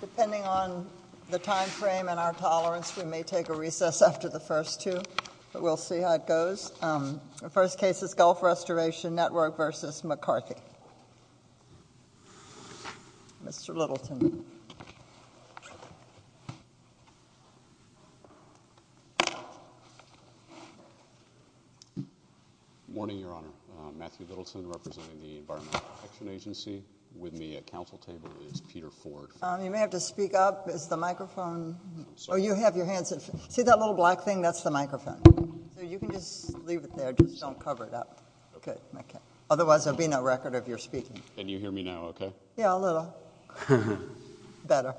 Depending on the time frame and our tolerance, we may take a recess after the first two, but we'll see how it goes. The first case is Gulf Restoration Network v. McCarthy. Mr. Littleton. Good morning, Your Honor. Matthew Littleton representing the Environmental Protection Agency. With me at council table is Peter Ford. You may have to speak up. Is the microphone – oh, you have your hands – see that little black thing? That's the microphone. So you can just leave it there. Just don't cover it up. Okay. Otherwise, there will be no record of your speaking. Can you hear me now okay? Yeah, a little. Better.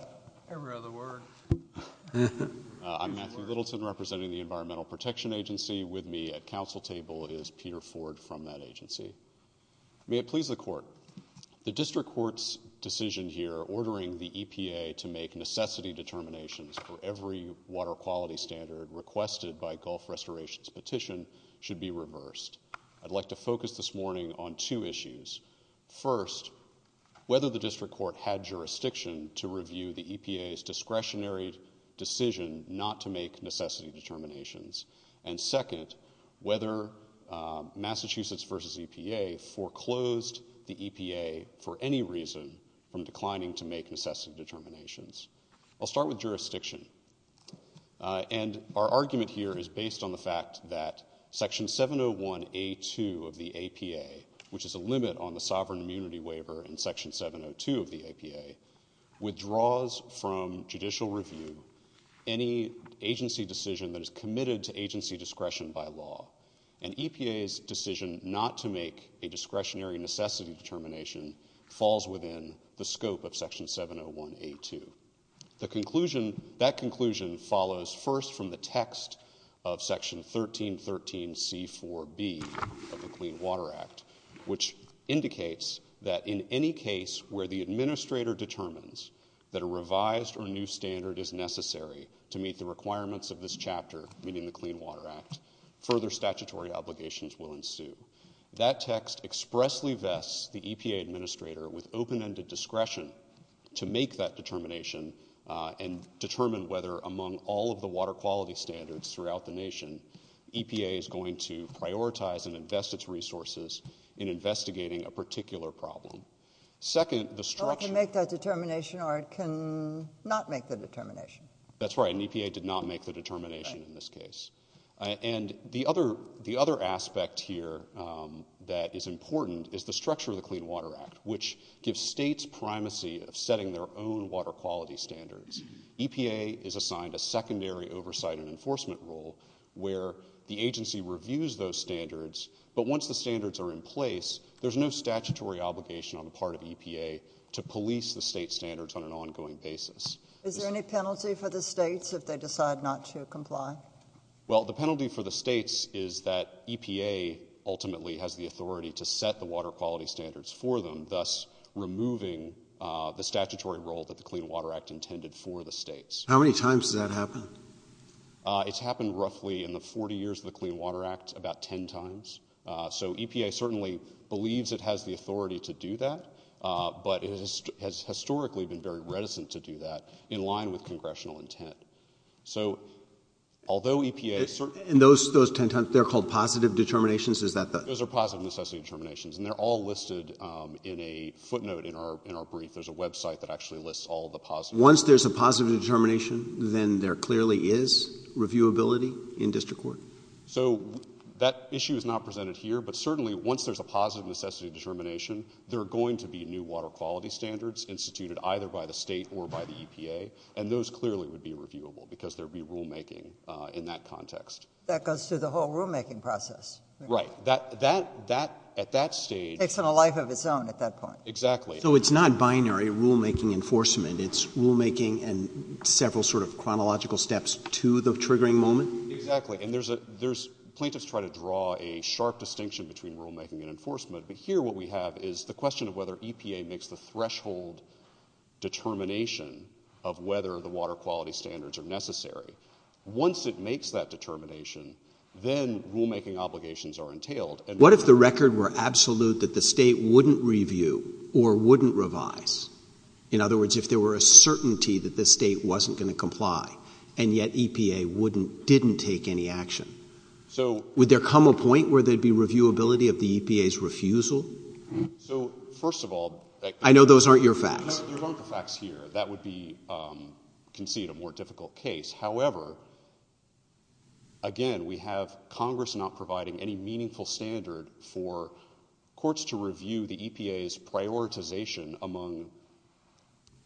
Every other word. I'm Matthew Littleton representing the Environmental Protection Agency. With me at council table is Peter Ford from that agency. May it please the Court. The district court's decision here ordering the EPA to make necessity determinations for every water quality standard requested by Gulf Restoration's petition should be reversed. I'd like to focus this morning on two issues. First, whether the district court had jurisdiction to review the EPA's discretionary decision not to make necessity determinations. And second, whether Massachusetts v. EPA foreclosed the EPA for any reason from declining to make necessity determinations. And our argument here is based on the fact that Section 701A2 of the APA, which is a limit on the sovereign immunity waiver in Section 702 of the APA, withdraws from judicial review any agency decision that is committed to agency discretion by law. And EPA's decision not to make a discretionary necessity determination falls within the scope of Section 701A2. That conclusion follows first from the text of Section 1313C4B of the Clean Water Act, which indicates that in any case where the administrator determines that a revised or new standard is necessary to meet the requirements of this chapter, meaning the Clean Water Act, further statutory obligations will ensue. That text expressly vests the EPA administrator with open-ended discretion to make that determination and determine whether, among all of the water quality standards throughout the nation, EPA is going to prioritize and invest its resources in investigating a particular problem. Second, the structure— Well, it can make that determination or it can not make the determination. That's right, and EPA did not make the determination in this case. And the other aspect here that is important is the structure of the Clean Water Act, which gives states primacy of setting their own water quality standards. EPA is assigned a secondary oversight and enforcement role where the agency reviews those standards, but once the standards are in place, there's no statutory obligation on the part of EPA to police the state standards on an ongoing basis. Is there any penalty for the states if they decide not to comply? Well, the penalty for the states is that EPA ultimately has the authority to set the water quality standards for them, thus removing the statutory role that the Clean Water Act intended for the states. How many times has that happened? It's happened roughly in the 40 years of the Clean Water Act about 10 times. So EPA certainly believes it has the authority to do that, but it has historically been very reticent to do that in line with congressional intent. And those 10 times, they're called positive determinations? Those are positive necessity determinations, and they're all listed in a footnote in our brief. There's a website that actually lists all the positives. Once there's a positive determination, then there clearly is reviewability in district court? So that issue is not presented here, but certainly once there's a positive necessity determination, there are going to be new water quality standards instituted either by the state or by the EPA, and those clearly would be reviewable because there would be rulemaking in that context. That goes through the whole rulemaking process? Right. That, at that stage— Takes on a life of its own at that point. Exactly. So it's not binary rulemaking enforcement. It's rulemaking and several sort of chronological steps to the triggering moment? Exactly, and plaintiffs try to draw a sharp distinction between rulemaking and enforcement, but here what we have is the question of whether EPA makes the threshold determination of whether the water quality standards are necessary. Once it makes that determination, then rulemaking obligations are entailed. What if the record were absolute that the state wouldn't review or wouldn't revise? In other words, if there were a certainty that the state wasn't going to comply, and yet EPA didn't take any action? So— Would there come a point where there would be reviewability of the EPA's refusal? So, first of all— I know those aren't your facts. That would be—concede a more difficult case. However, again, we have Congress not providing any meaningful standard for courts to review the EPA's prioritization among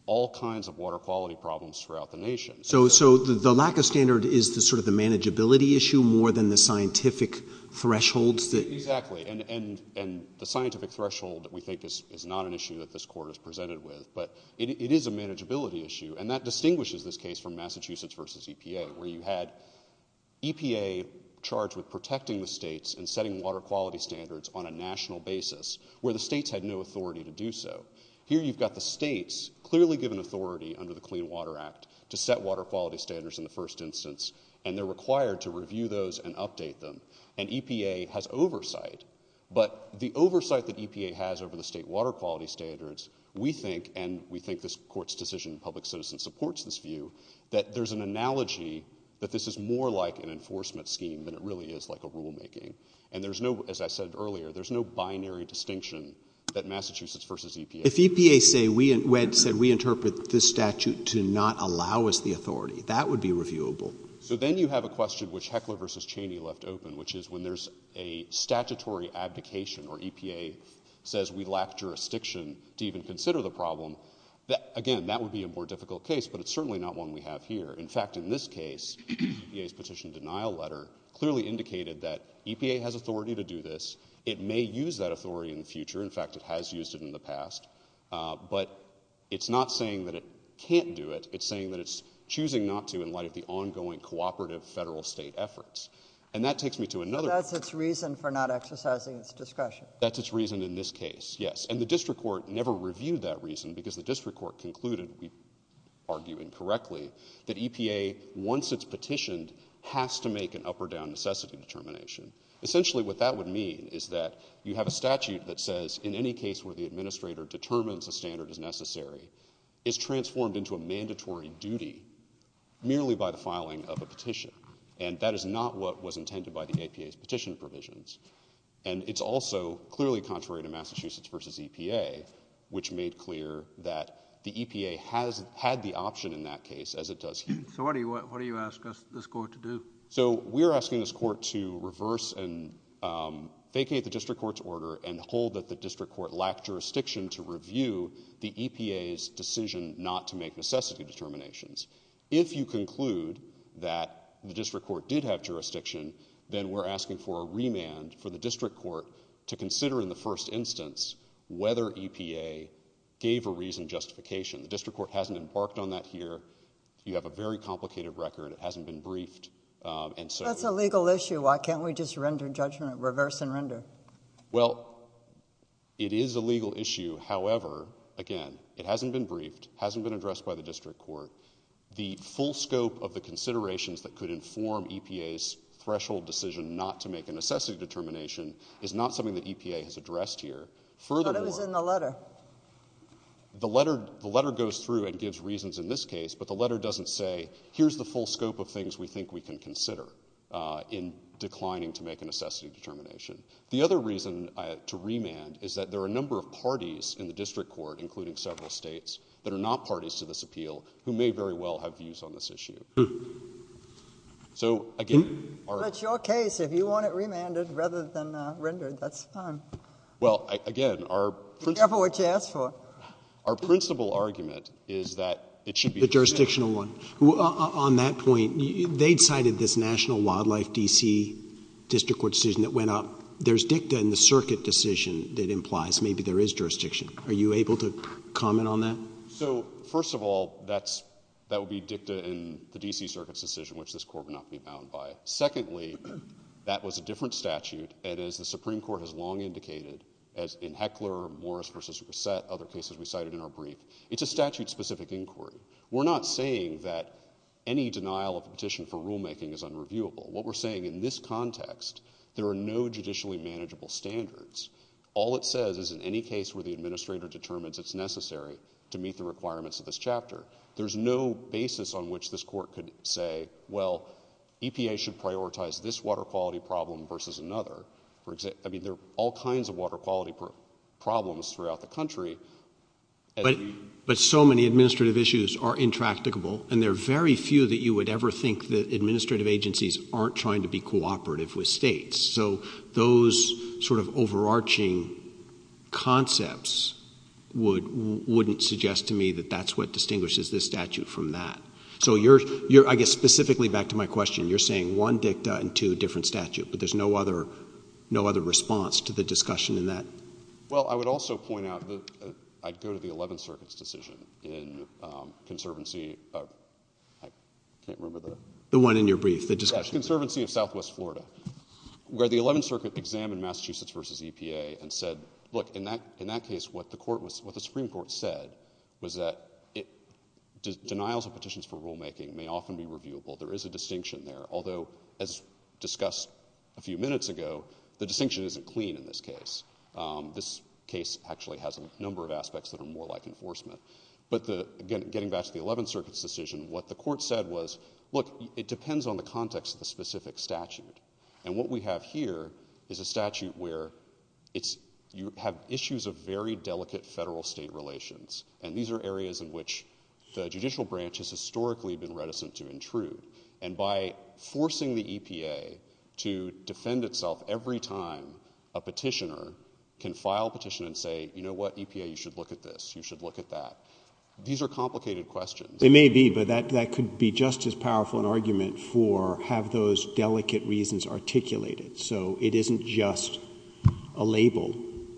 all kinds of water quality problems throughout the nation. So the lack of standard is sort of the manageability issue more than the scientific thresholds that— But it is a manageability issue, and that distinguishes this case from Massachusetts v. EPA, where you had EPA charged with protecting the states and setting water quality standards on a national basis, where the states had no authority to do so. Here you've got the states clearly given authority under the Clean Water Act to set water quality standards in the first instance, and they're required to review those and update them. And EPA has oversight. But the oversight that EPA has over the state water quality standards, we think—and we think this Court's decision in Public Citizen supports this view—that there's an analogy that this is more like an enforcement scheme than it really is like a rulemaking. And there's no—as I said earlier, there's no binary distinction that Massachusetts v. EPA— If EPA said we interpret this statute to not allow us the authority, that would be reviewable. So then you have a question which Heckler v. Cheney left open, which is when there's a statutory abdication or EPA says we lack jurisdiction to even consider the problem, again, that would be a more difficult case, but it's certainly not one we have here. In fact, in this case, EPA's petition denial letter clearly indicated that EPA has authority to do this. It may use that authority in the future. In fact, it has used it in the past. But it's not saying that it can't do it. It's saying that it's choosing not to in light of the ongoing cooperative federal-state efforts. And that takes me to another— But that's its reason for not exercising its discretion. That's its reason in this case, yes. And the district court never reviewed that reason because the district court concluded—we argue incorrectly—that EPA, once it's petitioned, has to make an up-or-down necessity determination. Essentially what that would mean is that you have a statute that says in any case where the administrator determines a standard is necessary is transformed into a mandatory duty merely by the filing of a petition. And that is not what was intended by the EPA's petition provisions. And it's also clearly contrary to Massachusetts v. EPA, which made clear that the EPA has had the option in that case, as it does here. So what do you ask this court to do? So we're asking this court to reverse and vacate the district court's order and hold that the district court lacked jurisdiction to review the EPA's decision not to make necessity determinations. If you conclude that the district court did have jurisdiction, then we're asking for a remand for the district court to consider in the first instance whether EPA gave a reasoned justification. The district court hasn't embarked on that here. You have a very complicated record. It hasn't been briefed, and so— That's a legal issue. Why can't we just render judgment—reverse and render? Well, it is a legal issue. However, again, it hasn't been briefed, hasn't been addressed by the district court. The full scope of the considerations that could inform EPA's threshold decision not to make a necessity determination is not something that EPA has addressed here. But it was in the letter. The letter goes through and gives reasons in this case, but the letter doesn't say here's the full scope of things we think we can consider in declining to make a necessity determination. The other reason to remand is that there are a number of parties in the district court, including several states, that are not parties to this appeal who may very well have views on this issue. So, again— That's your case. If you want it remanded rather than rendered, that's fine. Well, again, our— Careful what you ask for. Our principal argument is that it should be— The jurisdictional one. On that point, they cited this National Wildlife D.C. District Court decision that went up. There's dicta in the circuit decision that implies maybe there is jurisdiction. Are you able to comment on that? So, first of all, that would be dicta in the D.C. Circuit's decision, which this Court would not be bound by. Secondly, that was a different statute, and as the Supreme Court has long indicated, as in Heckler, Morris v. Reset, other cases we cited in our brief, it's a statute-specific inquiry. We're not saying that any denial of a petition for rulemaking is unreviewable. What we're saying in this context, there are no judicially manageable standards. All it says is in any case where the administrator determines it's necessary to meet the requirements of this chapter, there's no basis on which this Court could say, well, EPA should prioritize this water quality problem versus another. I mean, there are all kinds of water quality problems throughout the country. But so many administrative issues are intractable, and there are very few that you would ever think that administrative agencies aren't trying to be cooperative with states. So those sort of overarching concepts wouldn't suggest to me that that's what distinguishes this statute from that. So you're, I guess, specifically back to my question, you're saying one dicta and two different statutes, but there's no other response to the discussion in that? Well, I would also point out that I'd go to the Eleventh Circuit's decision in Conservancy of – I can't remember the – The one in your brief, the discussion. Yes, Conservancy of Southwest Florida, where the Eleventh Circuit examined Massachusetts v. EPA and said, look, in that case what the Supreme Court said was that denials of petitions for rulemaking may often be reviewable. There is a distinction there, although as discussed a few minutes ago, the distinction isn't clean in this case. This case actually has a number of aspects that are more like enforcement. But getting back to the Eleventh Circuit's decision, what the Court said was, look, it depends on the context of the specific statute. And what we have here is a statute where it's – you have issues of very delicate federal-state relations. And these are areas in which the judicial branch has historically been reticent to intrude. And by forcing the EPA to defend itself every time a petitioner can file a petition and say, you know what, EPA, you should look at this, you should look at that, these are complicated questions. It may be, but that could be just as powerful an argument for have those delicate reasons articulated. So it isn't just a label,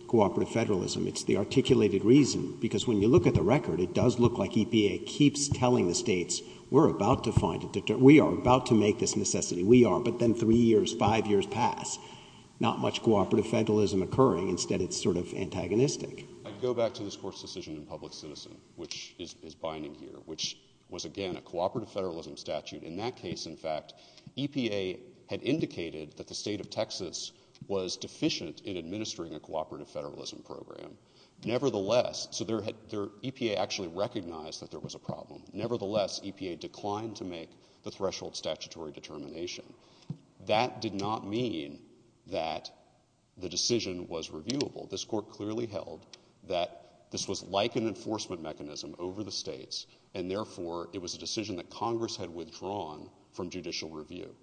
cooperative federalism. It's the articulated reason. Because when you look at the record, it does look like EPA keeps telling the states, we're about to find – we are about to make this necessity. We are. But then three years, five years pass. Not much cooperative federalism occurring. Instead, it's sort of antagonistic. I'd go back to this Court's decision in public citizen, which is binding here, which was, again, a cooperative federalism statute. In that case, in fact, EPA had indicated that the state of Texas was deficient in administering a cooperative federalism program. Nevertheless – so EPA actually recognized that there was a problem. Nevertheless, EPA declined to make the threshold statutory determination. That did not mean that the decision was reviewable. This Court clearly held that this was like an enforcement mechanism over the states, and therefore it was a decision that Congress had withdrawn from judicial review.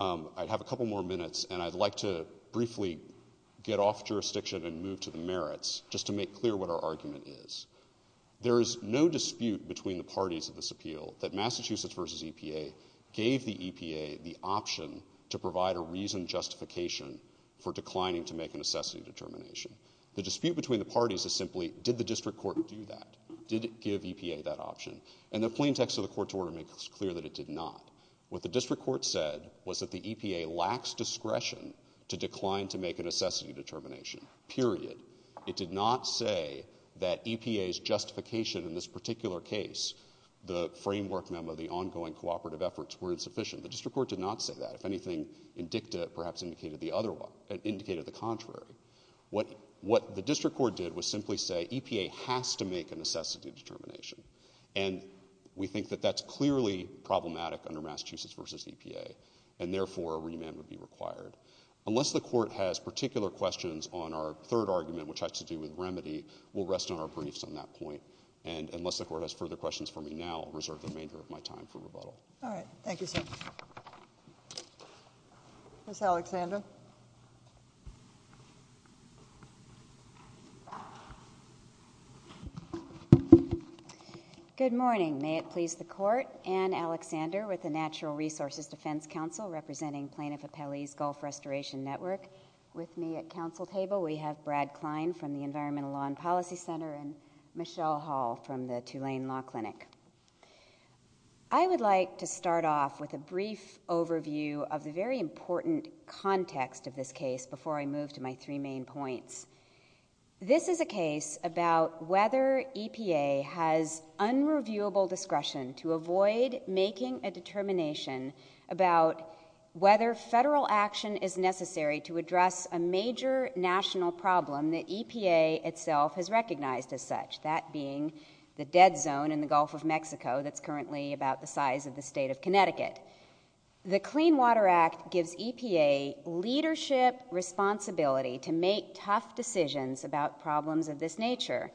I have a couple more minutes, and I'd like to briefly get off jurisdiction and move to the merits, just to make clear what our argument is. There is no dispute between the parties of this appeal that Massachusetts v. EPA gave the EPA the option to provide a reasoned justification for declining to make a necessity determination. The dispute between the parties is simply, did the district court do that? Did it give EPA that option? And the plain text of the Court's order makes clear that it did not. What the district court said was that the EPA lacks discretion to decline to make a necessity determination, period. It did not say that EPA's justification in this particular case, the framework memo, the ongoing cooperative efforts, were insufficient. The district court did not say that. If anything, it perhaps indicated the contrary. What the district court did was simply say EPA has to make a necessity determination, and we think that that's clearly problematic under Massachusetts v. EPA, and therefore a remand would be required. Unless the Court has particular questions on our third argument, which has to do with remedy, we'll rest on our briefs on that point. And unless the Court has further questions for me now, I'll reserve the remainder of my time for rebuttal. All right. Thank you, sir. Ms. Alexander? Good morning. May it please the Court, Anne Alexander with the Natural Resources Defense Council representing Plaintiff Appellee's Gulf Restoration Network. With me at council table we have Brad Klein from the Environmental Law and Policy Center and Michelle Hall from the Tulane Law Clinic. I would like to start off with a brief overview of the very important context of this case before I move to my three main points. This is a case about whether EPA has unreviewable discretion to avoid making a determination about whether federal action is necessary to address a major national problem that EPA itself has recognized as such, that being the dead zone in the Gulf of Mexico that's currently about the size of the state of Connecticut. The Clean Water Act gives EPA leadership responsibility to make tough decisions about problems of this nature,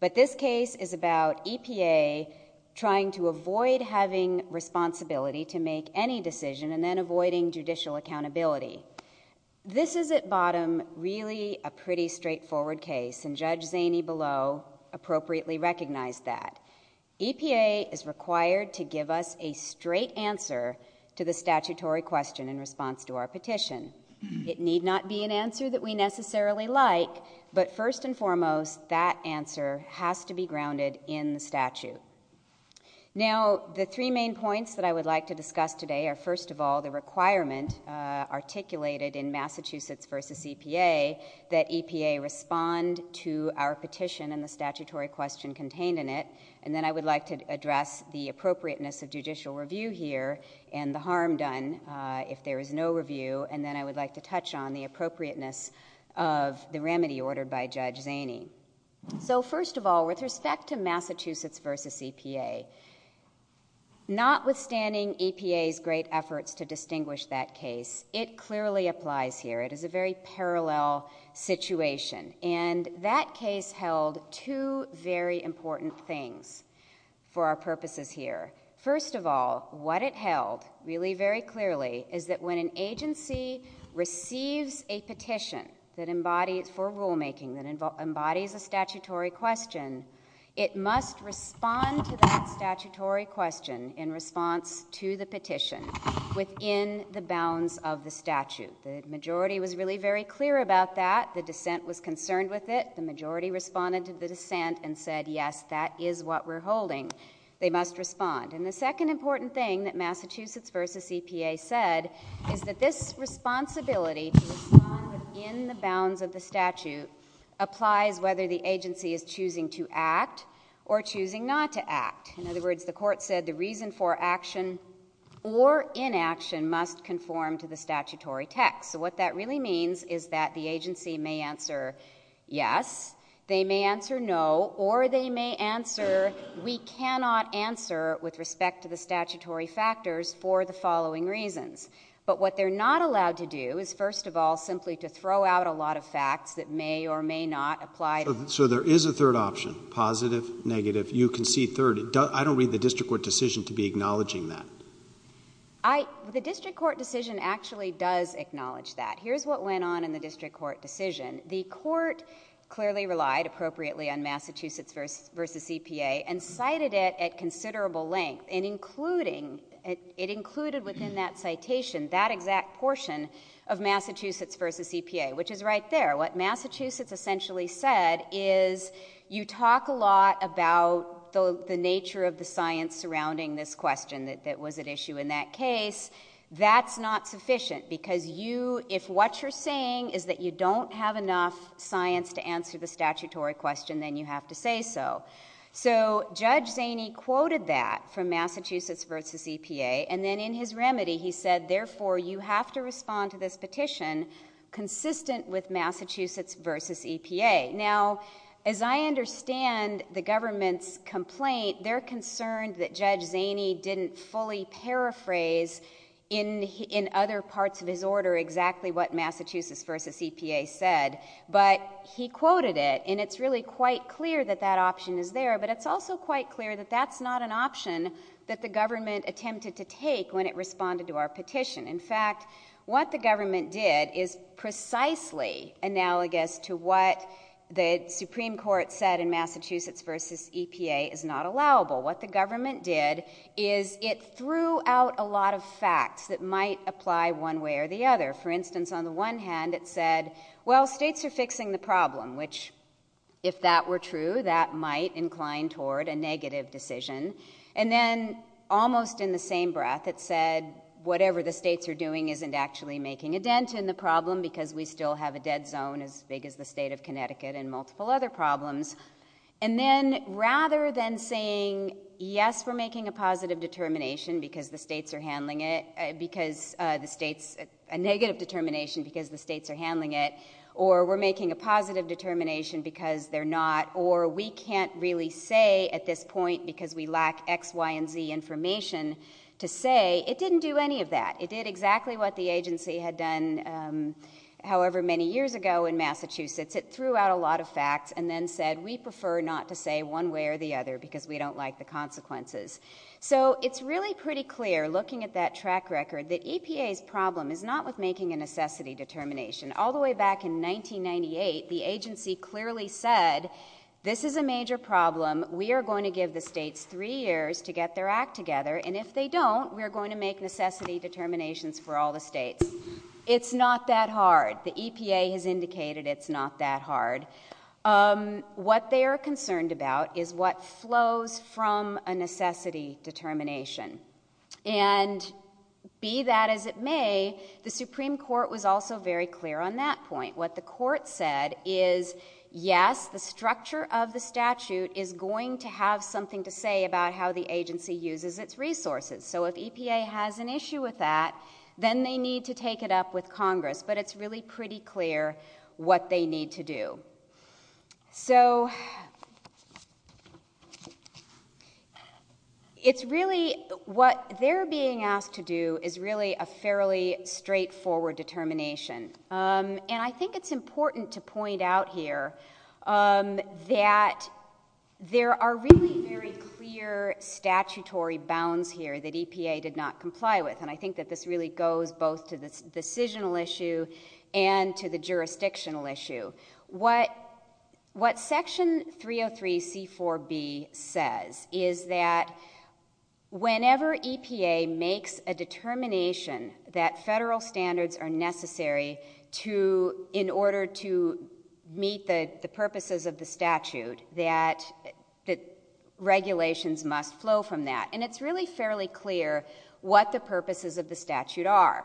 but this case is about EPA trying to avoid having responsibility to make any decision and then avoiding judicial accountability. This is at bottom really a pretty straightforward case, and Judge Zaney below appropriately recognized that. EPA is required to give us a straight answer to the statutory question in response to our petition. It need not be an answer that we necessarily like, but first and foremost, that answer has to be grounded in the statute. Now, the three main points that I would like to discuss today are, first of all, the requirement articulated in Massachusetts v. EPA that EPA respond to our petition and the statutory question contained in it, and then I would like to address the appropriateness of judicial review here and the harm done if there is no review, and then I would like to touch on the appropriateness of the remedy ordered by Judge Zaney. So first of all, with respect to Massachusetts v. EPA, notwithstanding EPA's great efforts to distinguish that case, it clearly applies here. It is a very parallel situation, and that case held two very important things for our purposes here. First of all, what it held really very clearly is that when an agency receives a petition for rulemaking that embodies a statutory question, it must respond to that statutory question in response to the petition within the bounds of the statute. The majority was really very clear about that. The dissent was concerned with it. The majority responded to the dissent and said, yes, that is what we're holding. They must respond. And the second important thing that Massachusetts v. EPA said is that this responsibility to respond within the bounds of the statute applies whether the agency is choosing to act or choosing not to act. In other words, the court said the reason for action or inaction must conform to the statutory text. So what that really means is that the agency may answer yes, they may answer no, or they may answer we cannot answer with respect to the statutory factors for the following reasons. But what they're not allowed to do is, first of all, simply to throw out a lot of facts that may or may not apply. So there is a third option, positive, negative. You can see third. I don't read the district court decision to be acknowledging that. The district court decision actually does acknowledge that. Here's what went on in the district court decision. The court clearly relied appropriately on Massachusetts v. EPA and cited it at considerable length, and it included within that citation that exact portion of Massachusetts v. EPA, which is right there. What Massachusetts essentially said is you talk a lot about the nature of the science surrounding this question that was at issue in that case. That's not sufficient because if what you're saying is that you don't have enough science to answer the statutory question, then you have to say so. So Judge Zaney quoted that from Massachusetts v. EPA, and then in his remedy he said, therefore, you have to respond to this petition consistent with Massachusetts v. EPA. Now, as I understand the government's complaint, they're concerned that Judge Zaney didn't fully paraphrase in other parts of his order exactly what Massachusetts v. EPA said, but he quoted it, and it's really quite clear that that option is there, but it's also quite clear that that's not an option that the government attempted to take when it responded to our petition. In fact, what the government did is precisely analogous to what the Supreme Court said in Massachusetts v. EPA is not allowable. What the government did is it threw out a lot of facts that might apply one way or the other. For instance, on the one hand, it said, well, states are fixing the problem, which if that were true, that might incline toward a negative decision, and then almost in the same breath it said, whatever the states are doing isn't actually making a dent in the problem because we still have a dead zone as big as the state of Connecticut and multiple other problems, and then rather than saying, yes, we're making a positive determination because the states are handling it, because the states, a negative determination because the states are handling it, or we're making a positive determination because they're not, or we can't really say at this point because we lack X, Y, and Z information to say, it didn't do any of that. It did exactly what the agency had done however many years ago in Massachusetts. It threw out a lot of facts and then said we prefer not to say one way or the other because we don't like the consequences. So it's really pretty clear looking at that track record that EPA's problem is not with making a necessity determination. All the way back in 1998, the agency clearly said this is a major problem. We are going to give the states three years to get their act together, and if they don't, we are going to make necessity determinations for all the states. It's not that hard. The EPA has indicated it's not that hard. What they are concerned about is what flows from a necessity determination, and be that as it may, the Supreme Court was also very clear on that point. What the court said is yes, the structure of the statute is going to have something to say about how the agency uses its resources. So if EPA has an issue with that, then they need to take it up with Congress, but it's really pretty clear what they need to do. So what they are being asked to do is really a fairly straightforward determination, and I think it's important to point out here that there are really very clear statutory bounds here that EPA did not comply with, and I think that this really goes both to the decisional issue and to the jurisdictional issue. What Section 303.C.4.B. says is that whenever EPA makes a determination that federal standards are necessary in order to meet the purposes of the statute, that regulations must flow from that, and it's really fairly clear what the purposes of the statute are.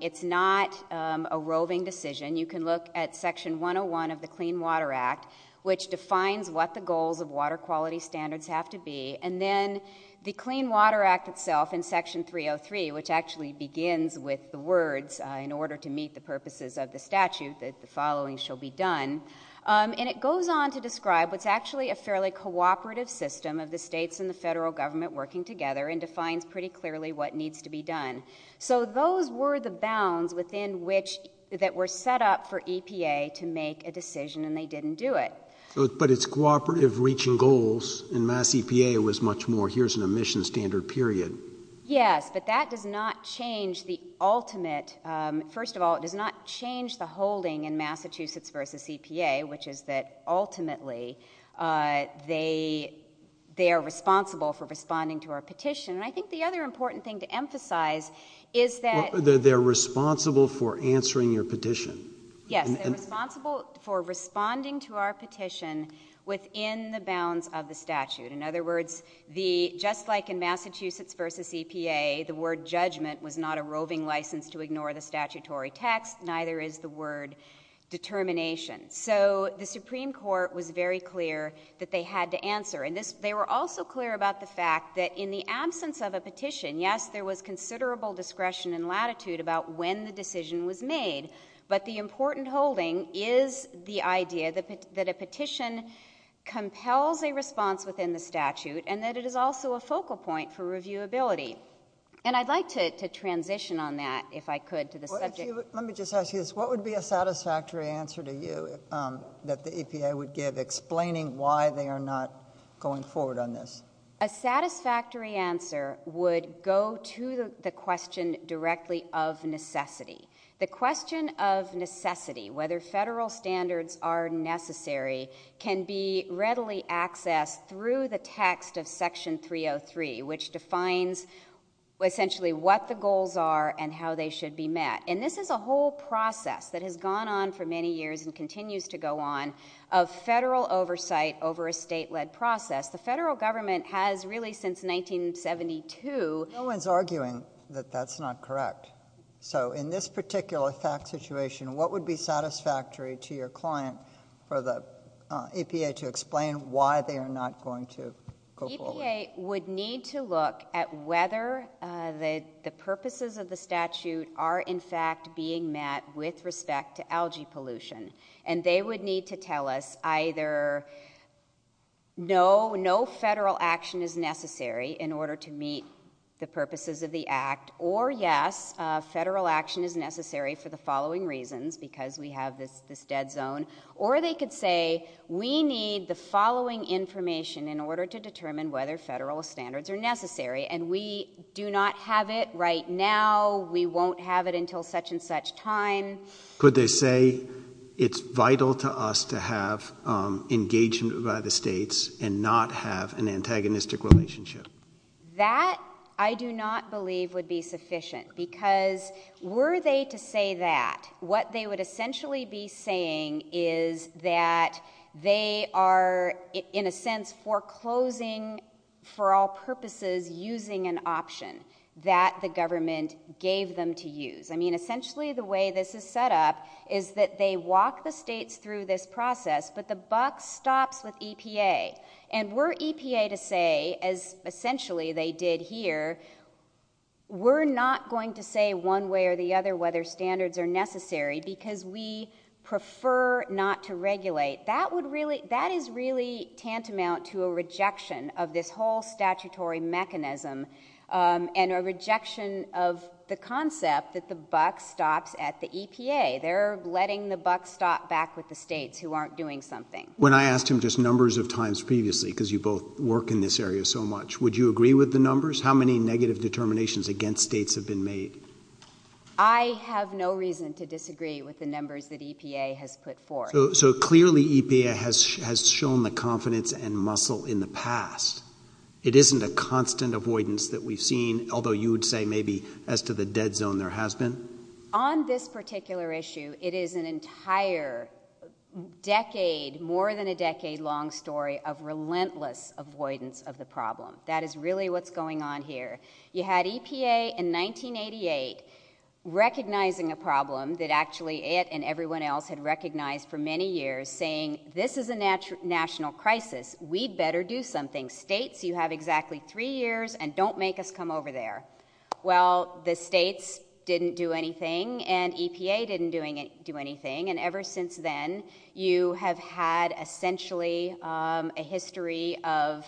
It's not a roving decision. You can look at Section 101 of the Clean Water Act, which defines what the goals of water quality standards have to be, and then the Clean Water Act itself in Section 303, which actually begins with the words, in order to meet the purposes of the statute, that the following shall be done, and it goes on to describe what's actually a fairly cooperative system of the states and the federal government working together and defines pretty clearly what needs to be done. So those were the bounds that were set up for EPA to make a decision, and they didn't do it. But it's cooperative reaching goals, and MassEPA was much more, here's an emission standard, period. Yes, but that does not change the ultimate. First of all, it does not change the holding in Massachusetts v. EPA, which is that ultimately they are responsible for responding to our petition, and I think the other important thing to emphasize is that... They're responsible for answering your petition. Yes, they're responsible for responding to our petition within the bounds of the statute. In other words, just like in Massachusetts v. EPA, the word judgment was not a roving license to ignore the statutory text, neither is the word determination. So the Supreme Court was very clear that they had to answer, and they were also clear about the fact that in the absence of a petition, yes, there was considerable discretion and latitude about when the decision was made, but the important holding is the idea that a petition compels a response within the statute and that it is also a focal point for reviewability. And I'd like to transition on that, if I could, to the subject... Let me just ask you this. What would be a satisfactory answer to you that the EPA would give, explaining why they are not going forward on this? A satisfactory answer would go to the question directly of necessity. The question of necessity, whether federal standards are necessary, can be readily accessed through the text of Section 303, which defines essentially what the goals are and how they should be met. And this is a whole process that has gone on for many years and continues to go on of federal oversight over a state-led process. The federal government has really since 1972... No one's arguing that that's not correct. So in this particular fact situation, what would be satisfactory to your client for the EPA to explain why they are not going to go forward? The EPA would need to look at whether the purposes of the statute are in fact being met with respect to algae pollution. And they would need to tell us either no federal action is necessary in order to meet the purposes of the Act, or yes, federal action is necessary for the following reasons, because we have this dead zone, or they could say we need the following information in order to determine whether federal standards are necessary. And we do not have it right now. We won't have it until such-and-such time. Could they say it's vital to us to have engagement by the states and not have an antagonistic relationship? That, I do not believe, would be sufficient. Because were they to say that, what they would essentially be saying is that they are in a sense foreclosing for all purposes using an option that the government gave them to use. I mean, essentially the way this is set up is that they walk the states through this process, but the buck stops with EPA. And were EPA to say, as essentially they did here, we're not going to say one way or the other whether standards are necessary because we prefer not to regulate, that is really tantamount to a rejection of this whole statutory mechanism and a rejection of the concept that the buck stops at the EPA. They're letting the buck stop back with the states who aren't doing something. When I asked him just numbers of times previously, because you both work in this area so much, would you agree with the numbers? How many negative determinations against states have been made? I have no reason to disagree with the numbers that EPA has put forth. So clearly EPA has shown the confidence and muscle in the past. It isn't a constant avoidance that we've seen, although you would say maybe as to the dead zone there has been? On this particular issue, it is an entire decade, more than a decade-long story of relentless avoidance of the problem. That is really what's going on here. You had EPA in 1988 recognizing a problem that actually it and everyone else had recognized for many years, saying this is a national crisis. We'd better do something. States, you have exactly three years, and don't make us come over there. Well, the states didn't do anything, and EPA didn't do anything, and ever since then you have had essentially a history of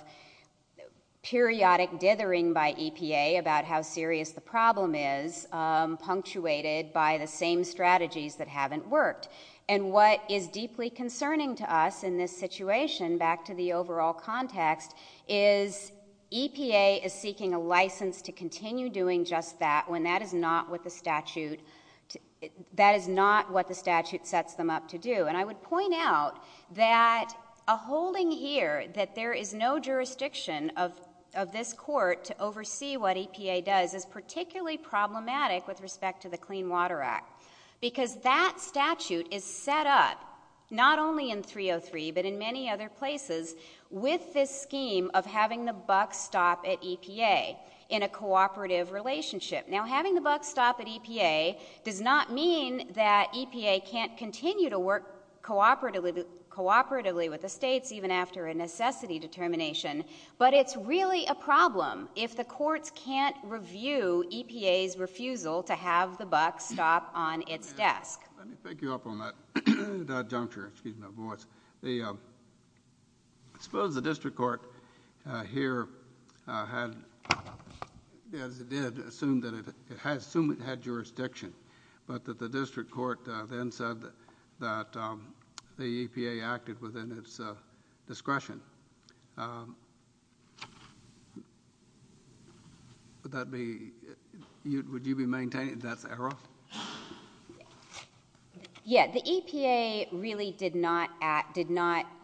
periodic dithering by EPA about how serious the problem is, punctuated by the same strategies that haven't worked. And what is deeply concerning to us in this situation, back to the overall context, is EPA is seeking a license to continue doing just that when that is not what the statute sets them up to do. And I would point out that a holding here that there is no jurisdiction of this court to oversee what EPA does is particularly problematic with respect to the Clean Water Act because that statute is set up not only in 303 but in many other places with this scheme of having the buck stop at EPA in a cooperative relationship. EPA can't continue to work cooperatively with the states even after a necessity determination, but it's really a problem if the courts can't review EPA's refusal to have the buck stop on its desk. Let me pick you up on that juncture. I suppose the district court here had, as it did, assumed it had jurisdiction, but the district court then said that the EPA acted within its discretion. Would you be maintaining that error? Yeah. The EPA really did not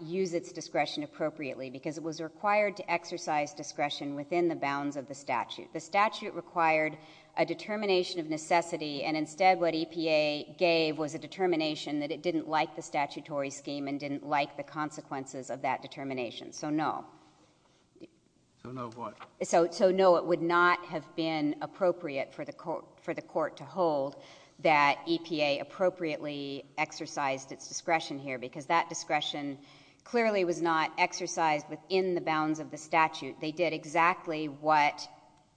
use its discretion appropriately because it was required to exercise discretion within the bounds of the statute. The statute required a determination of necessity, and instead what EPA gave was a determination that it didn't like the statutory scheme and didn't like the consequences of that determination, so no. So no what? So no, it would not have been appropriate for the court to hold that EPA appropriately exercised its discretion here because that discretion clearly was not exercised within the bounds of the statute. They did exactly what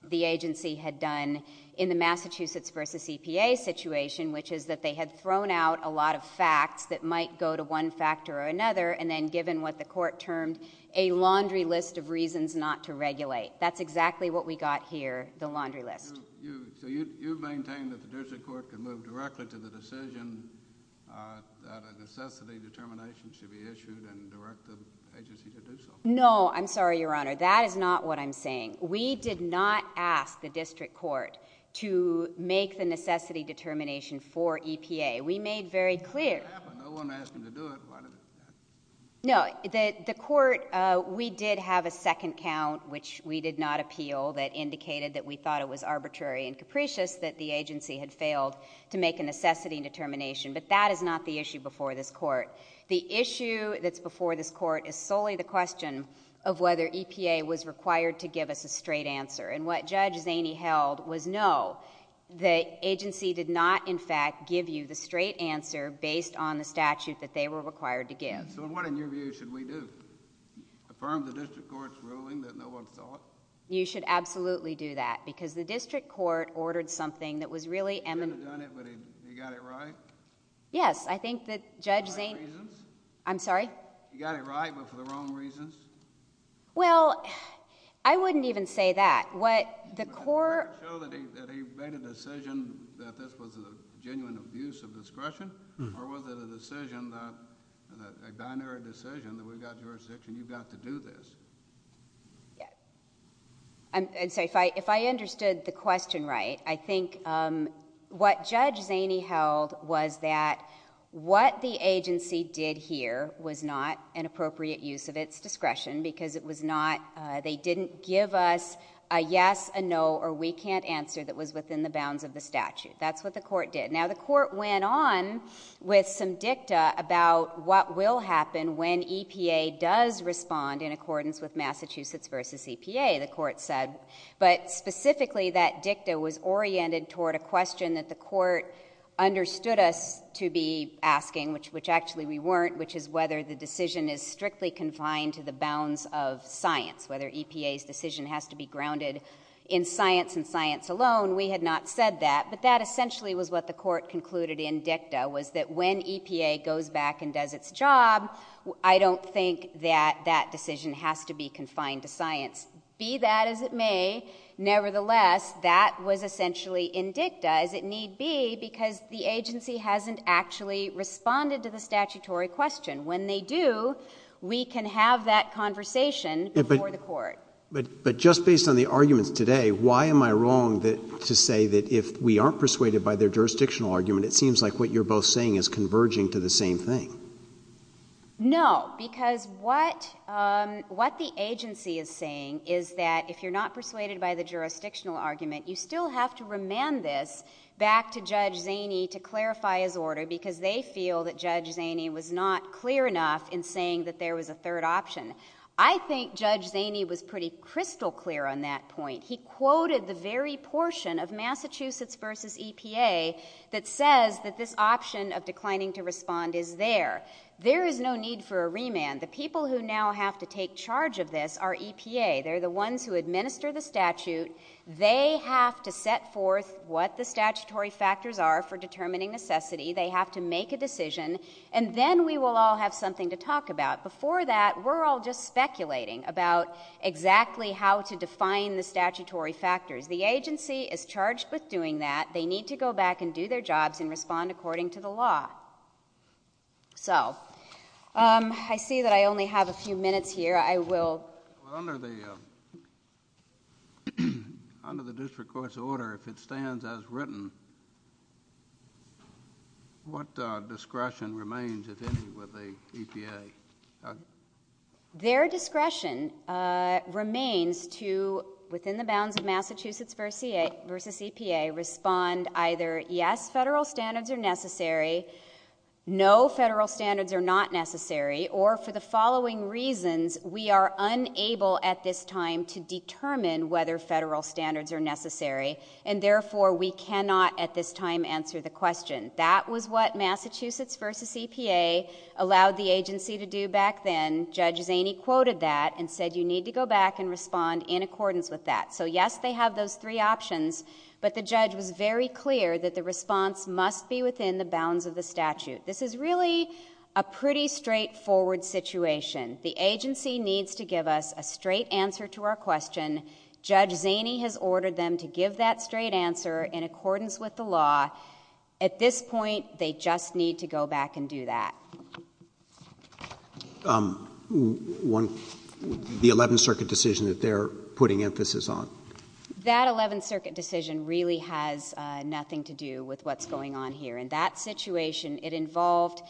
the agency had done in the Massachusetts versus EPA situation, which is that they had thrown out a lot of facts that might go to one factor or another, and then given what the court termed a laundry list of reasons not to regulate. That's exactly what we got here, the laundry list. So you maintain that the district court could move directly to the decision that a necessity determination should be issued and direct the agency to do so? No, I'm sorry, Your Honor. That is not what I'm saying. We did not ask the district court to make the necessity determination for EPA. We made very clear... No one asked them to do it. No, the court, we did have a second count, which we did not appeal, that indicated that we thought it was arbitrary and capricious that the agency had failed to make a necessity determination, but that is not the issue before this court. The issue that's before this court is solely the question of whether EPA was required to give us a straight answer, and what Judge Zaney held was no. The agency did not, in fact, give you the straight answer based on the statute that they were required to give. So what, in your view, should we do? Affirm the district court's ruling that no one saw it? You should absolutely do that, because the district court ordered something that was really... You should have done it, but you got it right? Yes, I think that Judge Zaney... For what reasons? I'm sorry? You got it right, but for the wrong reasons? Well, I wouldn't even say that. What the court... Did the court show that he made a decision that this was a genuine abuse of discretion, or was it a decision, a binary decision, that we've got jurisdiction, you've got to do this? Yes. And so if I understood the question right, I think what Judge Zaney held was that what the agency did here was not an appropriate use of its discretion, because it was not... They didn't give us a yes, a no, or we can't answer that was within the bounds of the statute. That's what the court did. Now, the court went on with some dicta about what will happen when EPA does respond in accordance with Massachusetts v. EPA, the court said. But specifically, that dicta was oriented toward a question that the court understood us to be asking, which actually we weren't, which is whether the decision is strictly confined to the bounds of science, whether EPA's decision has to be grounded in science and science alone. We had not said that, but that essentially was what the court concluded in dicta, was that when EPA goes back and does its job, I don't think that that decision has to be confined to science. Be that as it may, nevertheless, that was essentially in dicta, as it need be, because the agency hasn't actually responded to the statutory question. When they do, we can have that conversation before the court. But just based on the arguments today, why am I wrong to say that if we aren't persuaded by their jurisdictional argument, it seems like what you're both saying is converging to the same thing? No, because what the agency is saying is that if you're not persuaded by the jurisdictional argument, you still have to remand this back to Judge Zaney to clarify his order, because they feel that Judge Zaney was not clear enough in saying that there was a third option. I think Judge Zaney was pretty crystal clear on that point. He quoted the very portion of Massachusetts v. EPA that says that this option of declining to respond is there. There is no need for a remand. The people who now have to take charge of this are EPA. They're the ones who administer the statute. They have to set forth what the statutory factors are for determining necessity. They have to make a decision. And then we will all have something to talk about. Before that, we're all just speculating about exactly how to define the statutory factors. The agency is charged with doing that. They need to go back and do their jobs and respond according to the law. So, I see that I only have a few minutes here. Under the District Court's order, if it stands as written, what discretion remains with the EPA? remains to, within the bounds of Massachusetts v. EPA, respond either, yes, federal standards are necessary, no, federal standards are not necessary, or, for the following reasons, we are unable at this time to determine whether federal standards are necessary and, therefore, we cannot at this time answer the question. That was what Massachusetts v. EPA allowed the agency to do back then. Judge Zaney quoted that and said you need to go back and respond in accordance with that. So, yes, they have those three options, but the judge was very clear that the response must be within the bounds of the statute. This is really a pretty straightforward situation. The agency needs to give us a straight answer to our question. Judge Zaney has ordered them to give that straight answer in accordance with the law. At this point, they just need to go back and do that. The Eleventh Circuit decision that they're putting emphasis on. That Eleventh Circuit decision really has nothing to do with what's going on here. In that situation, it involved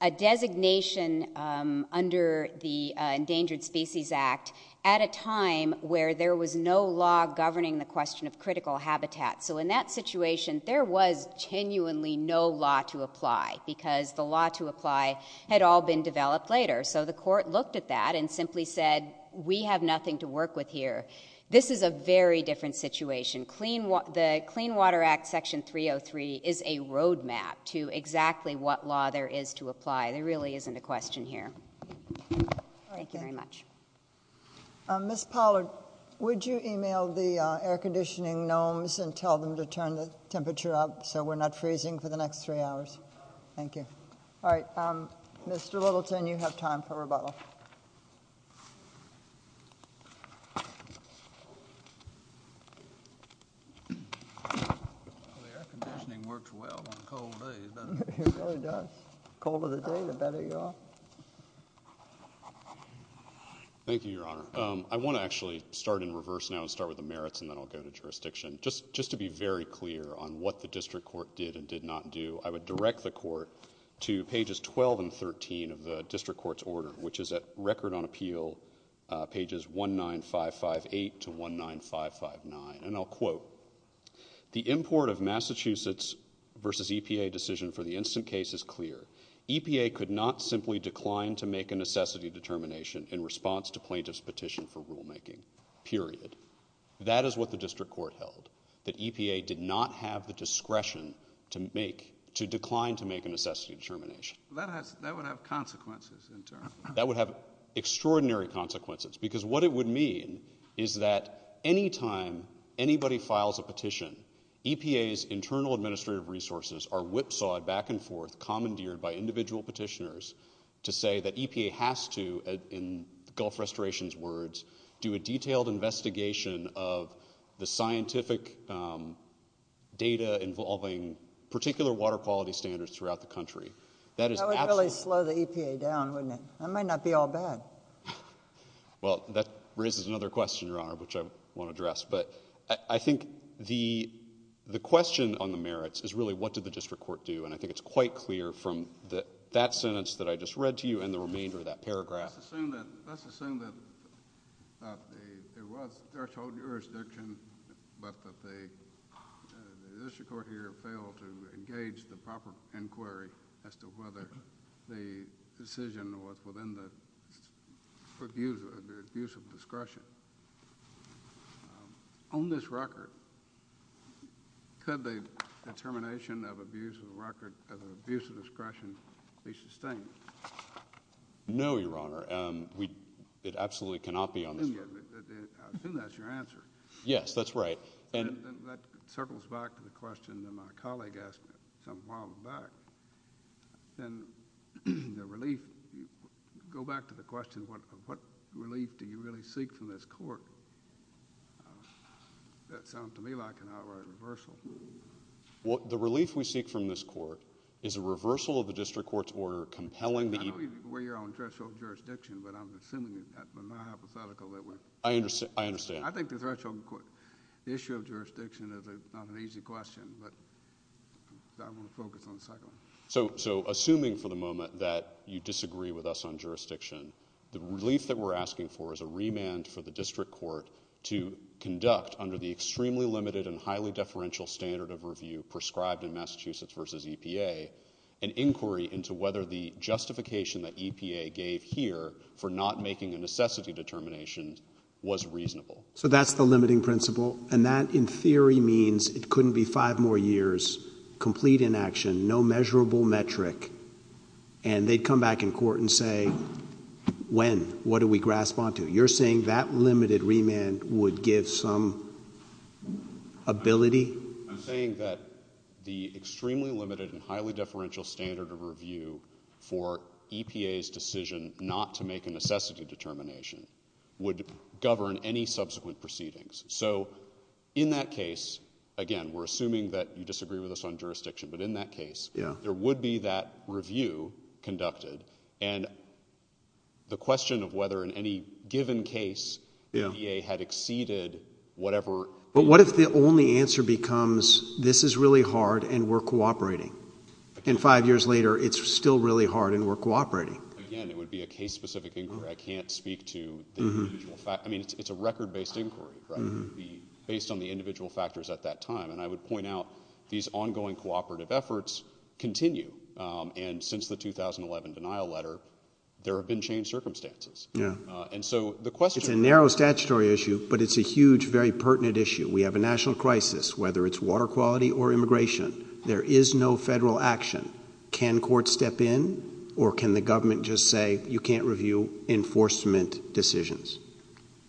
a designation under the Endangered Species Act at a time where there was no law governing the question of critical habitat. So, in that situation, there was genuinely no law to apply because the law to apply had all been developed later. So, the court looked at that and simply said, we have nothing to work with here. This is a very different situation. The Clean Water Act Section 303 is a road map to exactly what law there is to apply. There really isn't a question here. Thank you very much. Ms. Pollard, would you email the air conditioning gnomes and tell them to turn the temperature up so we're not freezing for the next three hours? Thank you. Mr. Littleton, you have time for rebuttal. The air conditioning works well on a cold day. It really does. The colder the day, the better you are. Thank you, Your Honor. I want to actually start in reverse now and start with the merits and then I'll go to jurisdiction. Just to be very clear on what the district court did and did not do, I would direct the court to pages 12 and 13 Record on Appeal, pages 190 and 211. I would direct the court to pages 195-58 to 195-59 and I'll quote, The import of Massachusetts versus EPA decision for the instant case is clear. EPA could not simply decline to make a necessity determination in response to plaintiff's petition for rulemaking, period. That is what the district court held, that EPA did not have the discretion to make, to decline to make a necessity determination. That would have consequences in turn. That would have extraordinary consequences because what it would mean is that anytime anybody files a petition, EPA's internal administrative resources are whipsawed back and forth, commandeered by individual petitioners to say that EPA has to, in Gulf Restoration's words, do a detailed investigation of the scientific data involving particular water quality standards throughout the country. That would really slow the EPA down, wouldn't it? That might not be all bad. Well, that raises another question, Your Honor, which I want to address, but I think the question on the merits is really what did the district court do, and I think it's quite clear from that sentence that I just read to you and the remainder of that paragraph. Let's assume that there was threshold jurisdiction, but that the district court here failed to engage the proper inquiry as to whether the decision was within the abuse of discretion. On this record, could the determination of abuse of record, of abuse of discretion, be sustained? No, Your Honor. It absolutely cannot be on this record. I assume that's your answer. Yes, that's right. That circles back to the question that my colleague asked a while back. Then the relief, go back to the question of what relief do you really seek from this court? That sounds to me like an outright reversal. The relief we seek from this court is a reversal of the district court's order compelling the EPA... I don't believe we're on threshold jurisdiction, but I'm assuming that was not hypothetical. I understand. I think the threshold issue of jurisdiction is not an easy question, but I want to focus on the cycling. Assuming for the moment that you disagree with us on jurisdiction, the relief that we're asking for is a remand for the district court to conduct under the extremely limited and highly deferential standard of review prescribed in Massachusetts v. EPA an inquiry into whether the justification that EPA gave here for not making a necessity determination was reasonable. That's the limiting principle, and that in theory means it couldn't be five more years, complete inaction, no measurable metric, and they'd come back in court and say, when? What do we grasp onto? You're saying that limited remand would give some ability? I'm saying that the extremely limited and highly deferential standard of review for EPA's decision not to make a necessity determination would govern any in that case, again, we're assuming that you disagree with us on jurisdiction, but in that case, there would be that review conducted, and the question of whether in any given case EPA had exceeded whatever... But what if the only answer becomes, this is really hard and we're cooperating? And five years later, it's still really hard and we're cooperating? Again, it would be a case-specific inquiry. I can't speak to the individual... I mean, it's a record based inquiry, right? Based on the individual factors at that time, and I would point out, these ongoing cooperative efforts continue, and since the 2011 denial letter, there have been changed circumstances. And so, the question... It's a narrow statutory issue, but it's a huge, very pertinent issue. We have a national crisis, whether it's water quality or immigration, there is no federal action. Can courts step in, or can the government just say, you can't review enforcement decisions?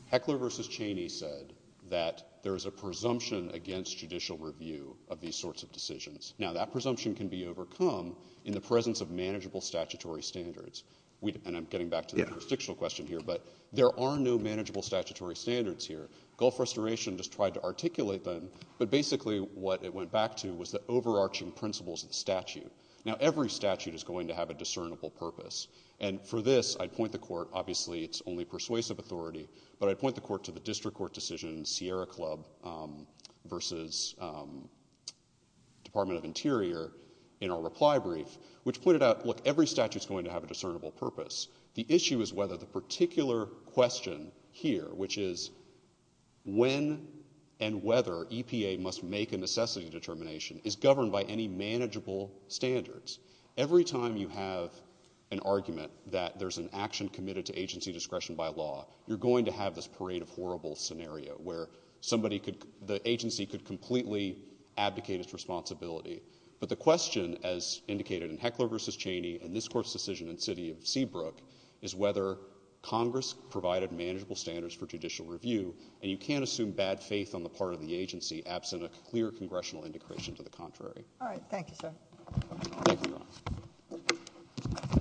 Heckler v. Cheney said that there is a presumption against judicial review of these sorts of decisions. Now, that presumption can be overcome in the presence of manageable statutory standards. And I'm getting back to the jurisdictional question here, but there are no manageable statutory standards here. Gulf Restoration just tried to articulate them, but basically what it went back to was the overarching principles of the statute. Now, every statute is going to have a discernible purpose, and for this, I'd point the court, obviously it's only persuasive authority, but I'd point the court to the district court decision, Sierra Club v. Department of Interior, in our reply brief, which pointed out, look, every statute's going to have a discernible purpose. The issue is whether the particular question here, which is when and whether EPA must make a necessity determination, is governed by any manageable standards. Every time you have an argument that there's an action committed to agency discretion by law, you're going to have this parade of horrible scenario where the agency could completely abdicate its responsibility. But the question, as indicated in Heckler v. Cheney and this court's decision in the city of Seabrook, is whether Congress provided manageable standards for judicial review, and you can't assume bad faith on the part of the agency, absent a clear congressional indication to the contrary. All right. Thank you, sir. Thank you.